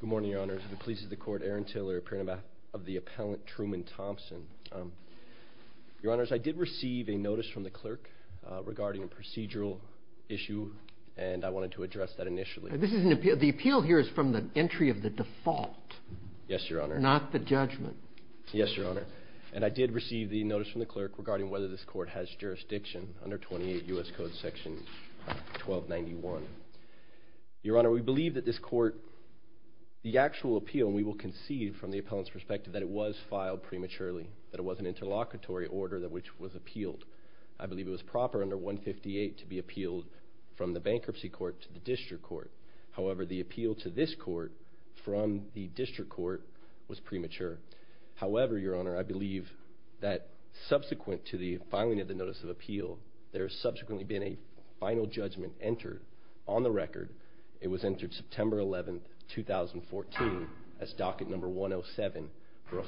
Good morning, Your Honors. The police of the court, Aaron Tiller, appearing on behalf of the appellant, Truman Thompson. Your Honors, I did receive a notice from the clerk regarding a procedural issue, and I wanted to address that initially. The appeal here is from the entry of the default. Yes, Your Honor. Not the judgment. Yes, Your Honor. And I did receive the notice from the clerk regarding whether this court has jurisdiction under 28 U.S. Code Section 1291. Your Honor, we believe that this court, the actual appeal, we will concede from the appellant's perspective that it was filed prematurely, that it was an interlocutory order which was appealed. I believe it was proper under 158 to be appealed from the bankruptcy court to the district court. However, the appeal to this court from the district court was premature. However, Your Honor, I believe that subsequent to the filing of the notice of appeal, there has subsequently been a final judgment entered on the record. It was entered September 11, 2014 as docket number 107 for a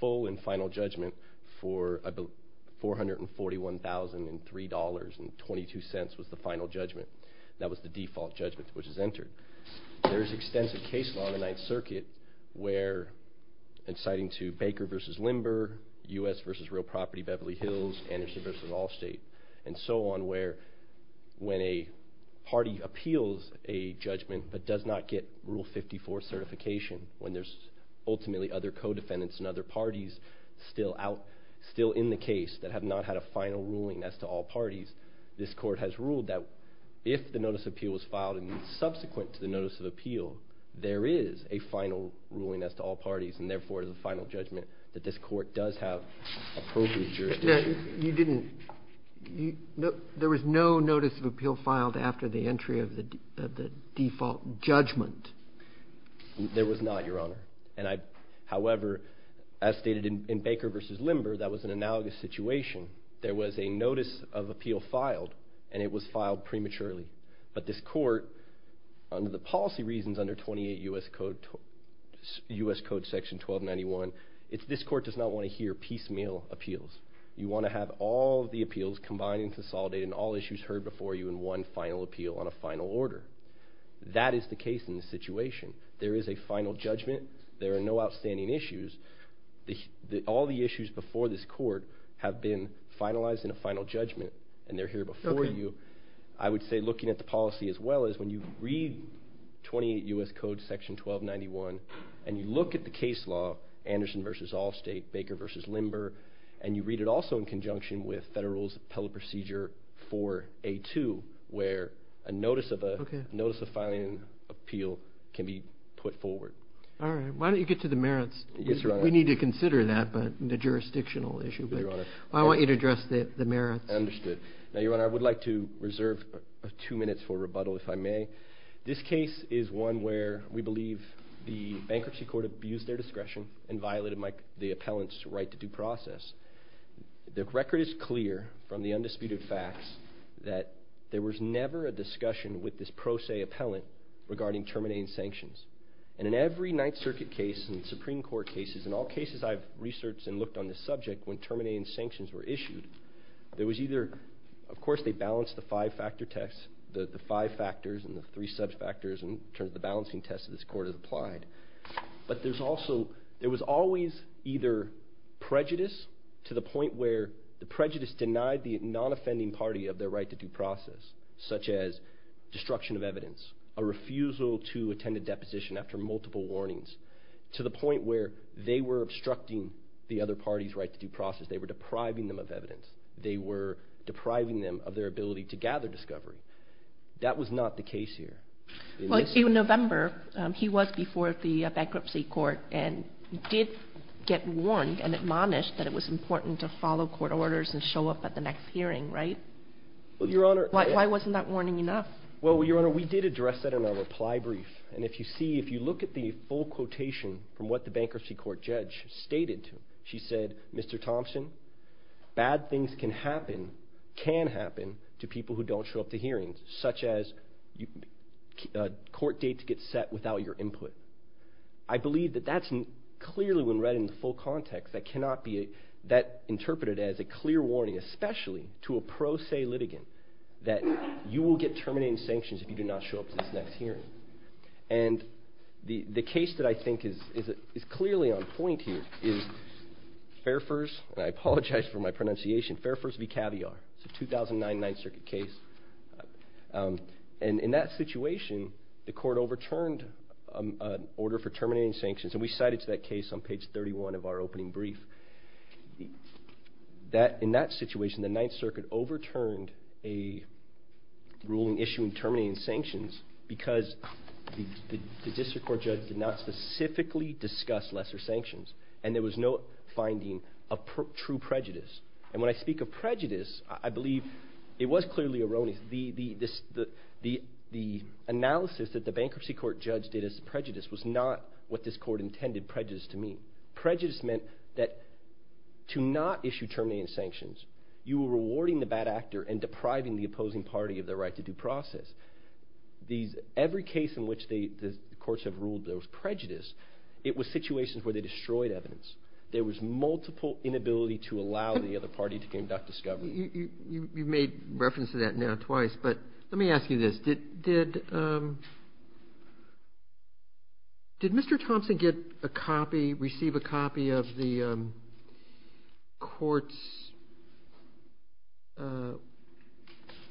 full and final judgment for $441,003.22 was the final judgment. That was the default judgment which was entered. There is extensive case law in the Ninth Circuit where, inciting to Baker v. Limber, U.S. v. Real Property, Beverly Hills, Anderson v. Allstate, and so on, where when a party appeals a judgment but does not get Rule 54 certification, when there's ultimately other co-defendants and other parties still out, still in the case that have not had a final ruling as to all parties, this court has ruled that if the notice of appeal was filed and subsequent to the notice of appeal, there is a final ruling as to all parties and, therefore, the final judgment that this court does have appropriate jurisdiction. You didn't – there was no notice of appeal filed after the entry of the default judgment. There was not, Your Honor. However, as stated in Baker v. Limber, that was an analogous situation. There was a notice of appeal filed, and it was filed prematurely. But this court, under the policy reasons under 28 U.S. Code Section 1291, this court does not want to hear piecemeal appeals. You want to have all the appeals combined and consolidated and all issues heard before you in one final appeal on a final order. That is the case in this situation. There is a final judgment. There are no outstanding issues. All the issues before this court have been finalized in a final judgment, and they're here before you. I would say looking at the policy as well is when you read 28 U.S. Code Section 1291 and you look at the case law, Anderson v. Allstate, Baker v. Limber, and you read it also in conjunction with federal's appellate procedure 4A2 where a notice of filing an appeal can be put forward. All right. Why don't you get to the merits? We need to consider that, but the jurisdictional issue. I want you to address the merits. Understood. Now, Your Honor, I would like to reserve two minutes for rebuttal, if I may. This case is one where we believe the bankruptcy court abused their discretion and violated the appellant's right to due process. The record is clear from the undisputed facts that there was never a discussion with this pro se appellant regarding terminating sanctions. And in every Ninth Circuit case and Supreme Court cases, in all cases I've researched and looked on this subject, when terminating sanctions were issued, there was either, of course, they balanced the five factors and the three sub-factors in terms of the balancing test that this court has applied, but there was always either prejudice to the point where the prejudice denied the non-offending party of their right to due process, such as destruction of evidence, a refusal to attend a deposition after multiple warnings, to the point where they were obstructing the other party's right to due process. They were depriving them of evidence. They were depriving them of their ability to gather discovery. That was not the case here. Well, in November, he was before the bankruptcy court and did get warned and admonished that it was important to follow court orders and show up at the next hearing, right? Well, Your Honor... Why wasn't that warning enough? Well, Your Honor, we did address that in our reply brief, and if you see, if you look at the full quotation from what the bankruptcy court judge stated, she said, Mr. Thompson, bad things can happen to people who don't show up to hearings, such as court dates get set without your input. I believe that that's clearly when read in the full context, that cannot be interpreted as a clear warning, especially to a pro se litigant, that you will get terminating sanctions if you do not show up to this next hearing. And the case that I think is clearly on point here is Fairfurs v. Caviar. It's a 2009 Ninth Circuit case. And in that situation, the court overturned an order for terminating sanctions, and we cited to that case on page 31 of our opening brief. In that situation, the Ninth Circuit overturned a ruling issuing terminating sanctions because the district court judge did not specifically discuss lesser sanctions, and there was no finding of true prejudice. And when I speak of prejudice, I believe it was clearly erroneous. The analysis that the bankruptcy court judge did as prejudice was not what this court intended prejudice to mean. Prejudice meant that to not issue terminating sanctions, you were rewarding the bad actor and depriving the opposing party of their right to due process. Every case in which the courts have ruled there was prejudice, it was situations where they destroyed evidence. There was multiple inability to allow the other party to conduct discovery. You've made reference to that now twice, but let me ask you this. Did Mr. Thompson receive a copy of the court's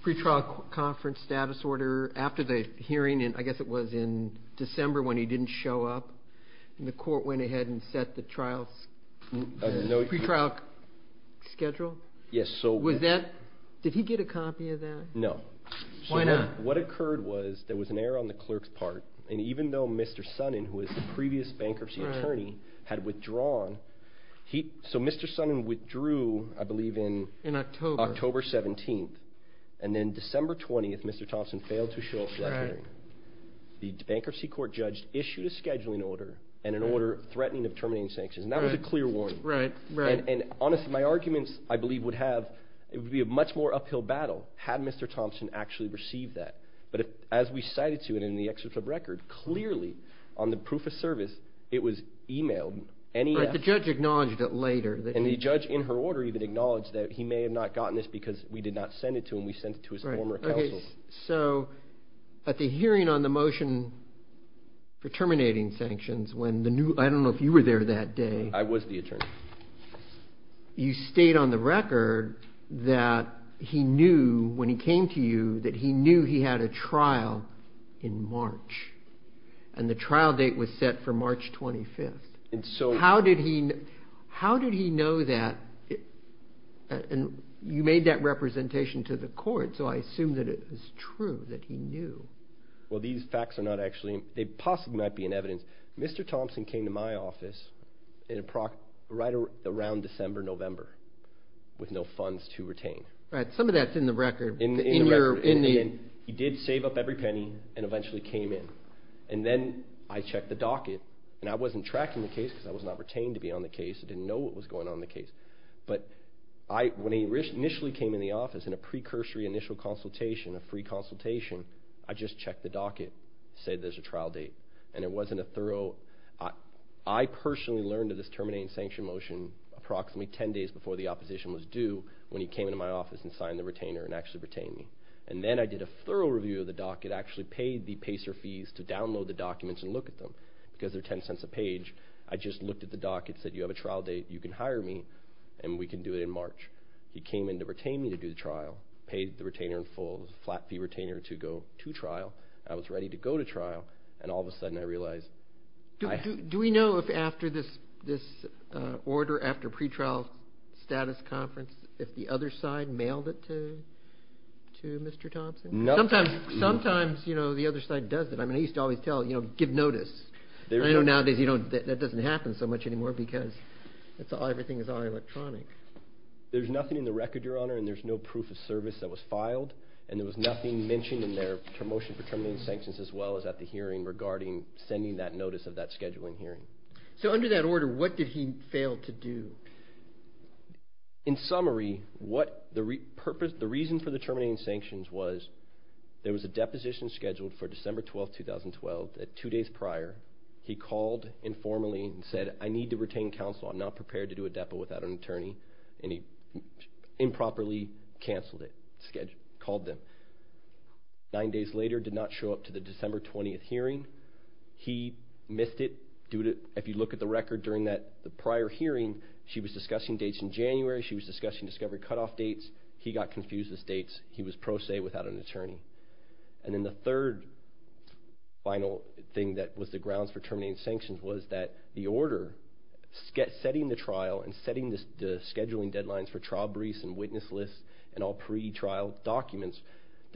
pre-trial conference status order after the hearing, I guess it was in December when he didn't show up, and the court went ahead and set the pre-trial schedule? Yes. Did he get a copy of that? No. Why not? What occurred was there was an error on the clerk's part, and even though Mr. Sonnen, who was the previous bankruptcy attorney, had withdrawn, so Mr. Sonnen withdrew, I believe in October 17th, and then December 20th, Mr. Thompson failed to show up for that hearing. The bankruptcy court judge issued a scheduling order and an order threatening of terminating sanctions, and that was a clear warning. And honestly, my arguments, I believe, would be a much more uphill battle had Mr. Thompson actually received that. But as we cited to it in the excerpt of the record, clearly on the proof of service it was emailed. The judge acknowledged it later. And the judge in her order even acknowledged that he may have not gotten this because we did not send it to him. We sent it to his former counsel. So at the hearing on the motion for terminating sanctions, I don't know if you were there that day. I was the attorney. You state on the record that he knew when he came to you that he knew he had a trial in March, and the trial date was set for March 25th. How did he know that? You made that representation to the court, so I assume that it was true that he knew. Well, these facts are not actually, they possibly might be in evidence. Mr. Thompson came to my office right around December, November, with no funds to retain. All right, some of that's in the record. He did save up every penny and eventually came in. And then I checked the docket, and I wasn't tracking the case because I was not retained to be on the case. I didn't know what was going on in the case. But when he initially came in the office in a precursory initial consultation, a free consultation, I just checked the docket, said there's a trial date. And it wasn't a thorough. I personally learned of this terminating sanction motion approximately 10 days before the opposition was due when he came into my office and signed the retainer and actually retained me. And then I did a thorough review of the docket, actually paid the pacer fees to download the documents and look at them. Because they're $0.10 a page, I just looked at the docket, said, you have a trial date, you can hire me, and we can do it in March. He came in to retain me to do the trial, paid the retainer in full, flat fee retainer to go to trial. I was ready to go to trial, and all of a sudden I realized. Do we know if after this order, after pretrial status conference, if the other side mailed it to Mr. Thompson? Sometimes the other side does it. I used to always tell, give notice. I know nowadays that doesn't happen so much anymore because everything is all electronic. There's nothing in the record, Your Honor, and there's no proof of service that was filed. And there was nothing mentioned in their motion for terminating sanctions as well as at the hearing regarding sending that notice of that scheduling hearing. So under that order, what did he fail to do? In summary, the reason for the terminating sanctions was there was a deposition scheduled for December 12, 2012. Two days prior, he called informally and said, I need to retain counsel. I'm not prepared to do a depo without an attorney. And he improperly canceled it, called them. Nine days later, did not show up to the December 20 hearing. He missed it. If you look at the record during the prior hearing, she was discussing dates in January. She was discussing discovery cutoff dates. He got confused with the dates. He was pro se without an attorney. And then the third final thing that was the grounds for terminating sanctions was that the order setting the trial and setting the scheduling deadlines for trial briefs and witness lists and all pre-trial documents,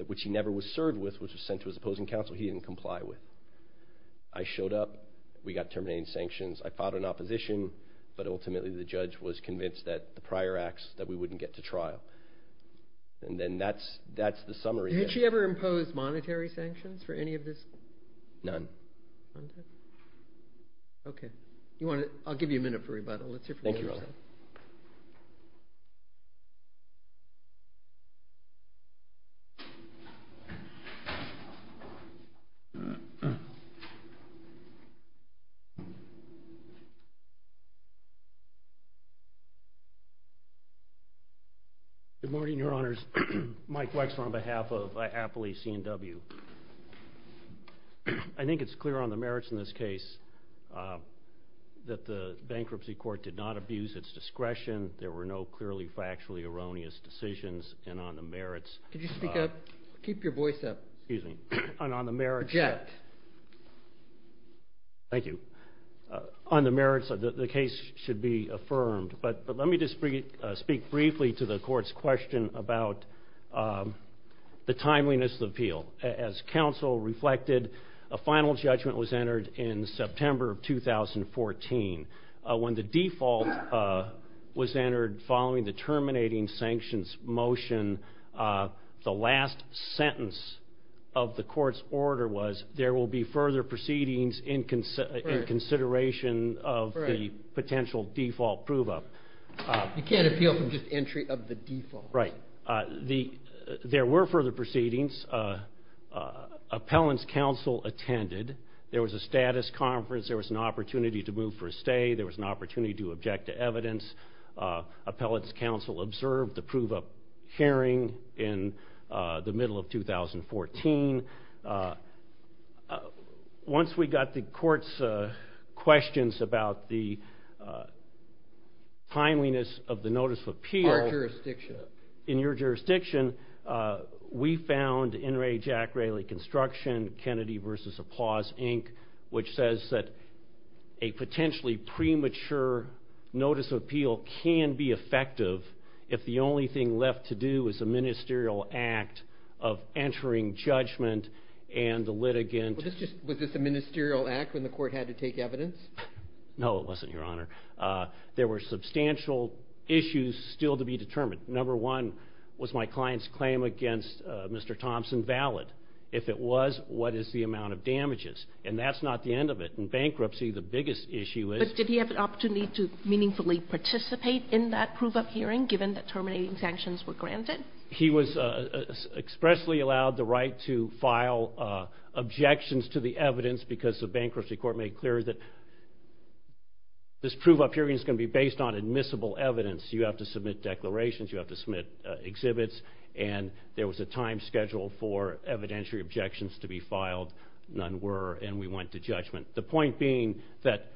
which he never was served with, which was sent to his opposing counsel, he didn't comply with. I showed up. We got terminating sanctions. I filed an opposition, but ultimately the judge was convinced that the prior acts, that we wouldn't get to trial. And then that's the summary. Did she ever impose monetary sanctions for any of this? None. Okay. I'll give you a minute for rebuttal. Thank you, Your Honor. Good morning, Your Honors. Mike Wexler on behalf of Appley C&W. I think it's clear on the merits in this case that the bankruptcy court did not abuse its discretion. There were no clearly factually erroneous decisions. And on the merits of the case should be affirmed. But let me just speak briefly to the court's question about the timeliness of the appeal. As counsel reflected, a final judgment was entered in September of 2014. When the default was entered following the terminating sanctions motion, the last sentence of the court's order was, there will be further proceedings in consideration of the potential default prove-up. You can't appeal from just entry of the default. Right. There were further proceedings. Appellant's counsel attended. There was a status conference. There was an opportunity to move for a stay. There was an opportunity to object to evidence. Appellant's counsel observed the prove-up hearing in the middle of 2014. Once we got the court's questions about the timeliness of the notice of appeal. Our jurisdiction. In your jurisdiction, we found in Ray Jack Rayleigh Construction, Kennedy v. Applause, Inc., which says that a potentially premature notice of appeal can be effective if the only thing left to do is a ministerial act of entering judgment and the litigant. Was this a ministerial act when the court had to take evidence? No, it wasn't, Your Honor. There were substantial issues still to be determined. Number one, was my client's claim against Mr. Thompson valid? If it was, what is the amount of damages? And that's not the end of it. In bankruptcy, the biggest issue is. But did he have an opportunity to meaningfully participate in that prove-up hearing given that terminating sanctions were granted? He was expressly allowed the right to file objections to the evidence because the bankruptcy court made clear that this prove-up hearing is going to be based on admissible evidence. You have to submit declarations. You have to submit exhibits. And there was a time schedule for evidentiary objections to be filed. None were, and we went to judgment. The point being that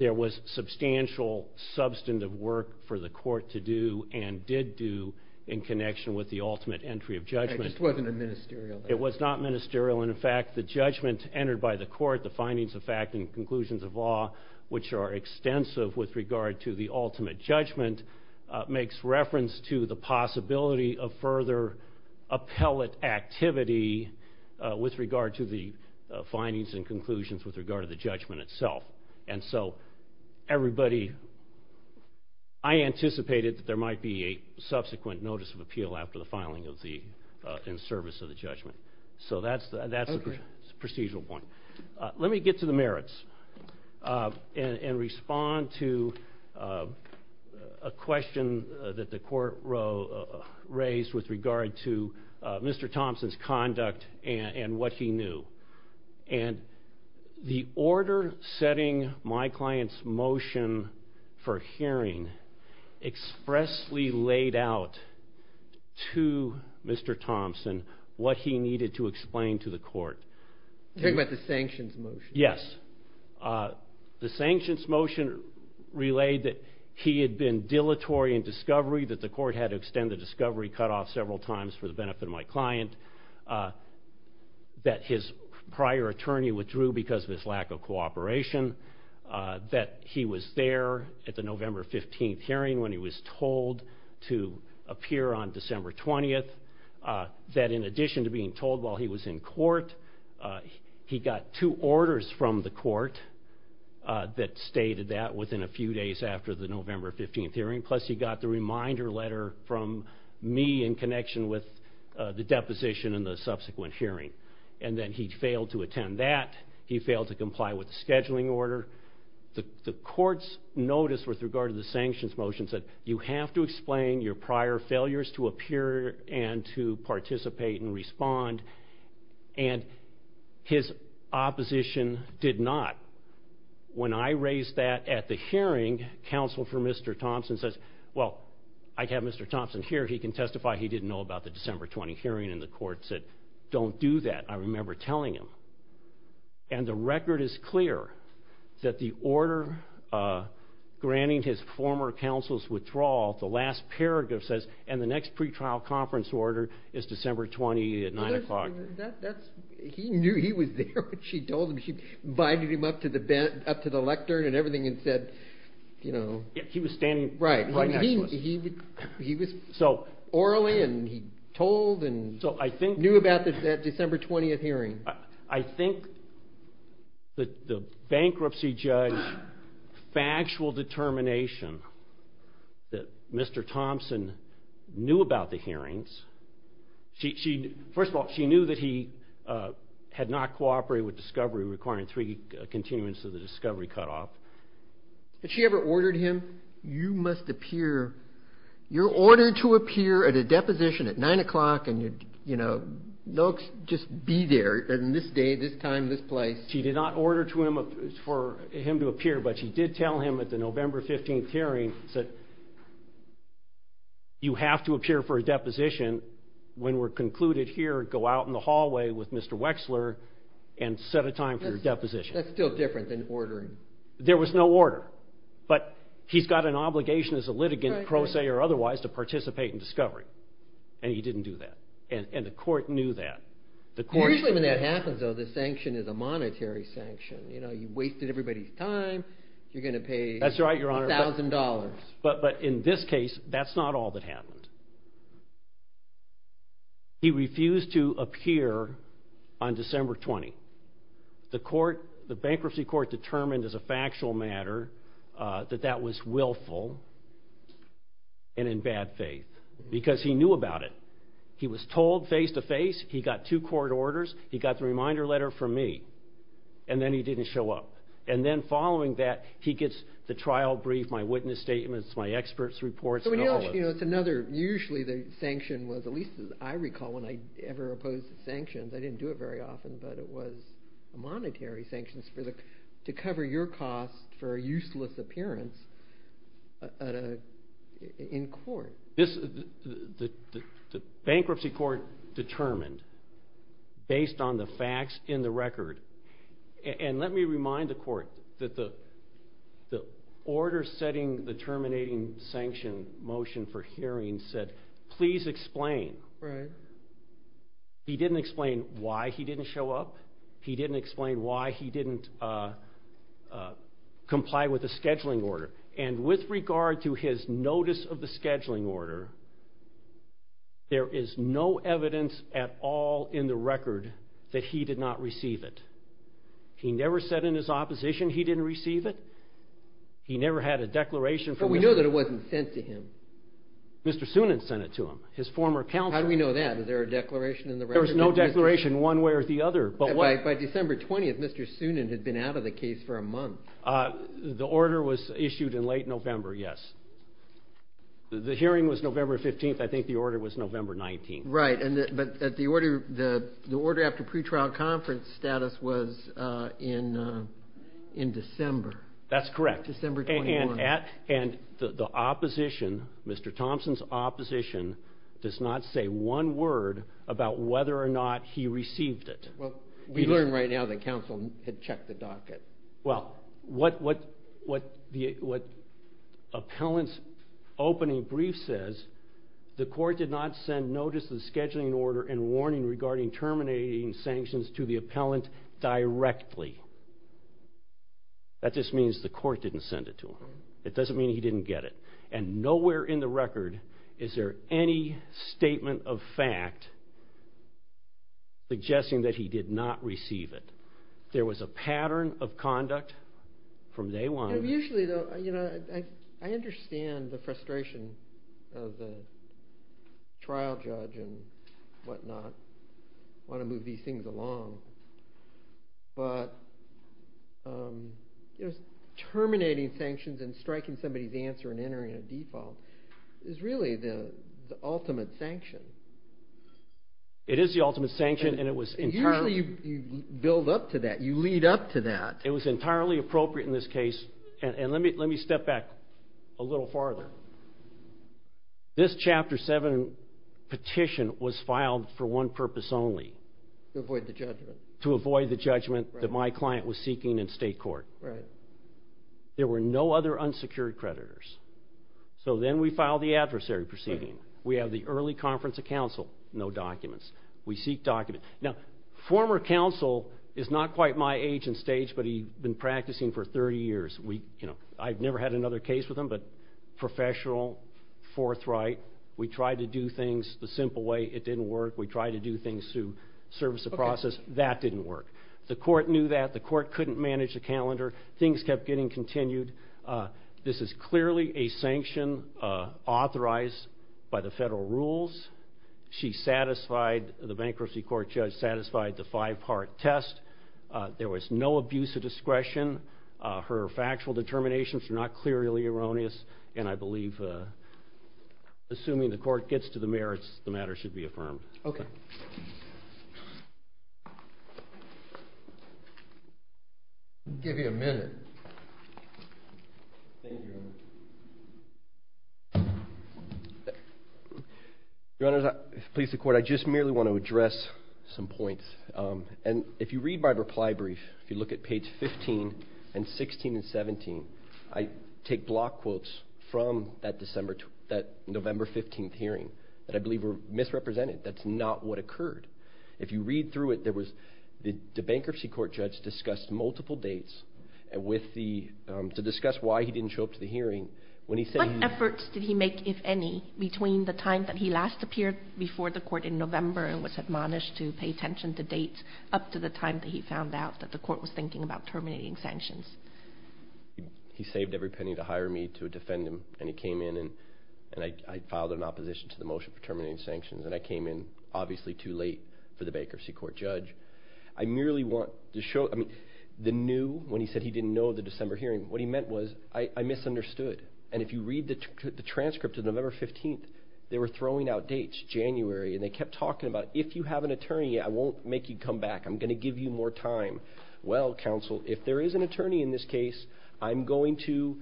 there was substantial substantive work for the court to do and did do in connection with the ultimate entry of judgment. It just wasn't a ministerial act. It was not ministerial. And, in fact, the judgment entered by the court, the findings of fact and conclusions of law, which are extensive with regard to the ultimate judgment, makes reference to the possibility of further appellate activity with regard to the findings and conclusions with regard to the judgment itself. And so everybody, I anticipated that there might be a subsequent notice of appeal after the filing in service of the judgment. So that's the procedural point. Let me get to the merits and respond to a question that the court raised with regard to Mr. Thompson's conduct and what he knew. And the order setting my client's motion for hearing expressly laid out to Mr. Thompson what he needed to explain to the court. You're talking about the sanctions motion? Yes. The sanctions motion relayed that he had been dilatory in discovery, that the court had to extend the discovery cutoff several times for the benefit of my client, that his prior attorney withdrew because of his lack of cooperation, that he was there at the November 15th hearing when he was told to appear on December 20th, that in addition to being told while he was in court, he got two orders from the court that stated that within a few days after the November 15th hearing, plus he got the reminder letter from me in connection with the deposition and the subsequent hearing. And then he failed to attend that. He failed to comply with the scheduling order. The court's notice with regard to the sanctions motion said, You have to explain your prior failures to appear and to participate and respond. And his opposition did not. When I raised that at the hearing, counsel for Mr. Thompson says, Well, I have Mr. Thompson here. He can testify he didn't know about the December 20th hearing. And the court said, Don't do that. I remember telling him. And the record is clear that the order granting his former counsel's withdrawal, the last paragraph says, And the next pretrial conference order is December 20th at 9 o'clock. He knew he was there when she told him. She binded him up to the lectern and everything and said, you know. He was standing right next to us. He was orally and he told and knew about that December 20th hearing. I think the bankruptcy judge's factual determination that Mr. Thompson knew about the hearings. First of all, she knew that he had not cooperated with discovery requiring three continuance of the discovery cutoff. Had she ever ordered him, You must appear. You're ordered to appear at a deposition at 9 o'clock. And, you know, look, just be there in this day, this time, this place. She did not order to him for him to appear. But she did tell him at the November 15th hearing that. You have to appear for a deposition when we're concluded here. Go out in the hallway with Mr. Wexler and set a time for your deposition. That's still different than ordering. There was no order. But he's got an obligation as a litigant, pro se or otherwise, to participate in discovery. And he didn't do that. And the court knew that. Usually when that happens, though, the sanction is a monetary sanction. You know, you wasted everybody's time. You're going to pay. That's right, Your Honor. A thousand dollars. But in this case, that's not all that happened. He refused to appear on December 20th. The bankruptcy court determined as a factual matter that that was willful and in bad faith. Because he knew about it. He was told face to face. He got two court orders. He got the reminder letter from me. And then he didn't show up. And then following that, he gets the trial brief, my witness statements, my expert's reports. Usually the sanction was, at least as I recall, when I ever opposed sanctions. I didn't do it very often, but it was a monetary sanction to cover your cost for a useless appearance in court. The bankruptcy court determined based on the facts in the record. And let me remind the court that the order setting the terminating sanction motion for hearing said, please explain. Right. He didn't explain why he didn't show up. He didn't explain why he didn't comply with the scheduling order. And with regard to his notice of the scheduling order, there is no evidence at all in the record that he did not receive it. He never said in his opposition he didn't receive it. He never had a declaration from him. But we know that it wasn't sent to him. Mr. Soonin sent it to him, his former counsel. How do we know that? Was there a declaration in the record? There was no declaration one way or the other. By December 20th, Mr. Soonin had been out of the case for a month. The order was issued in late November, yes. The hearing was November 15th. I think the order was November 19th. Right. But the order after pretrial conference status was in December. That's correct. December 21st. And the opposition, Mr. Thompson's opposition, does not say one word about whether or not he received it. Well, we learn right now that counsel had checked the docket. Well, what the appellant's opening brief says, the court did not send notice of the scheduling order and warning regarding terminating sanctions to the appellant directly. That just means the court didn't send it to him. It doesn't mean he didn't get it. And nowhere in the record is there any statement of fact suggesting that he did not receive it. There was a pattern of conduct from day one. Usually, though, I understand the frustration of the trial judge and whatnot, want to move these things along. But terminating sanctions and striking somebody's answer and entering a default is really the ultimate sanction. It is the ultimate sanction. Usually you build up to that. You lead up to that. It was entirely appropriate in this case. And let me step back a little farther. This Chapter 7 petition was filed for one purpose only. To avoid the judgment. To avoid the judgment that my client was seeking in state court. There were no other unsecured creditors. So then we filed the adversary proceeding. We have the early conference of counsel, no documents. We seek documents. Now, former counsel is not quite my age and stage, but he'd been practicing for 30 years. I've never had another case with him, but professional, forthright. We tried to do things the simple way. It didn't work. We tried to do things through service of process. That didn't work. The court knew that. The court couldn't manage the calendar. Things kept getting continued. This is clearly a sanction authorized by the federal rules. She satisfied, the bankruptcy court judge satisfied the five-part test. There was no abuse of discretion. Her factual determinations are not clearly erroneous. And I believe, assuming the court gets to the merits, the matter should be affirmed. Okay. I'll give you a minute. Thank you, Your Honor. Your Honor, please support. I just merely want to address some points. And if you read my reply brief, if you look at page 15 and 16 and 17, I take block quotes from that November 15th hearing that I believe were misrepresented. That's not what occurred. If you read through it, the bankruptcy court judge discussed multiple dates to discuss why he didn't show up to the hearing. What efforts did he make, if any, between the time that he last appeared before the court in November and was admonished to pay attention to dates up to the time that he found out that the court was thinking about terminating sanctions? He saved every penny to hire me to defend him. And he came in, and I filed an opposition to the motion for terminating sanctions. And I came in, obviously, too late for the bankruptcy court judge. I merely want to show, I mean, the new, when he said he didn't know the December hearing, what he meant was I misunderstood. And if you read the transcript of November 15th, they were throwing out dates, January. And they kept talking about if you have an attorney, I won't make you come back. I'm going to give you more time. Well, counsel, if there is an attorney in this case, I'm going to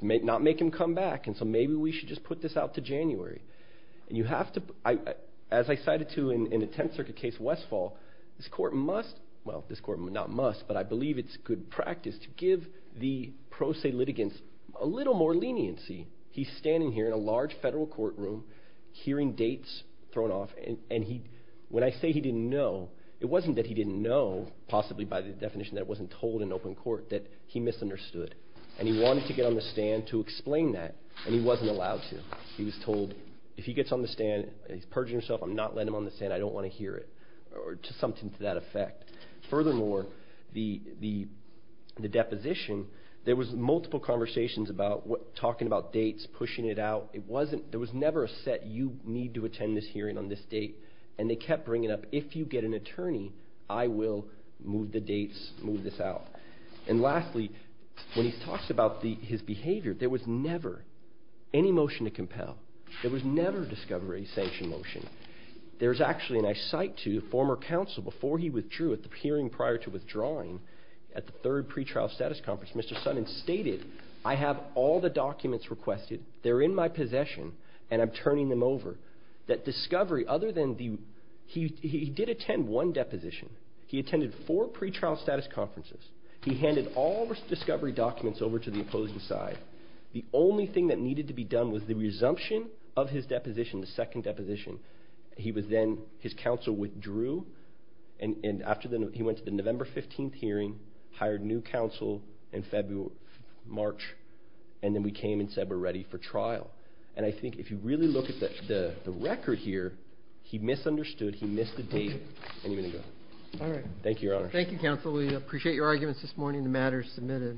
not make him come back. And so maybe we should just put this out to January. And you have to, as I cited to in the Tenth Circuit case Westfall, this court must, well, this court not must, but I believe it's good practice to give the pro se litigants a little more leniency. He's standing here in a large federal courtroom hearing dates thrown off. And when I say he didn't know, it wasn't that he didn't know, possibly by the definition that it wasn't told in open court, that he misunderstood. And he wanted to get on the stand to explain that, and he wasn't allowed to. He was told if he gets on the stand, he's purging himself, I'm not letting him on the stand, I don't want to hear it, or something to that effect. Furthermore, the deposition, there was multiple conversations about talking about dates, pushing it out. It wasn't, there was never a set you need to attend this hearing on this date. And they kept bringing up if you get an attorney, I will move the dates, move this out. And lastly, when he talks about his behavior, there was never any motion to compel. There was never discovery, sanction motion. There's actually, and I cite to you, former counsel, before he withdrew at the hearing prior to withdrawing at the third pretrial status conference, Mr. Sutton stated, I have all the documents requested, they're in my possession, and I'm turning them over. That discovery, other than the, he did attend one deposition. He attended four pretrial status conferences. He handed all the discovery documents over to the opposing side. The only thing that needed to be done was the resumption of his deposition, the second deposition. He was then, his counsel withdrew, and after, he went to the November 15th hearing, hired new counsel in February, March, and then we came and said we're ready for trial. And I think if you really look at the record here, he misunderstood. He missed the date any minute ago. All right. Thank you, Your Honor. Thank you, Counsel. We appreciate your arguments this morning. The matter is submitted.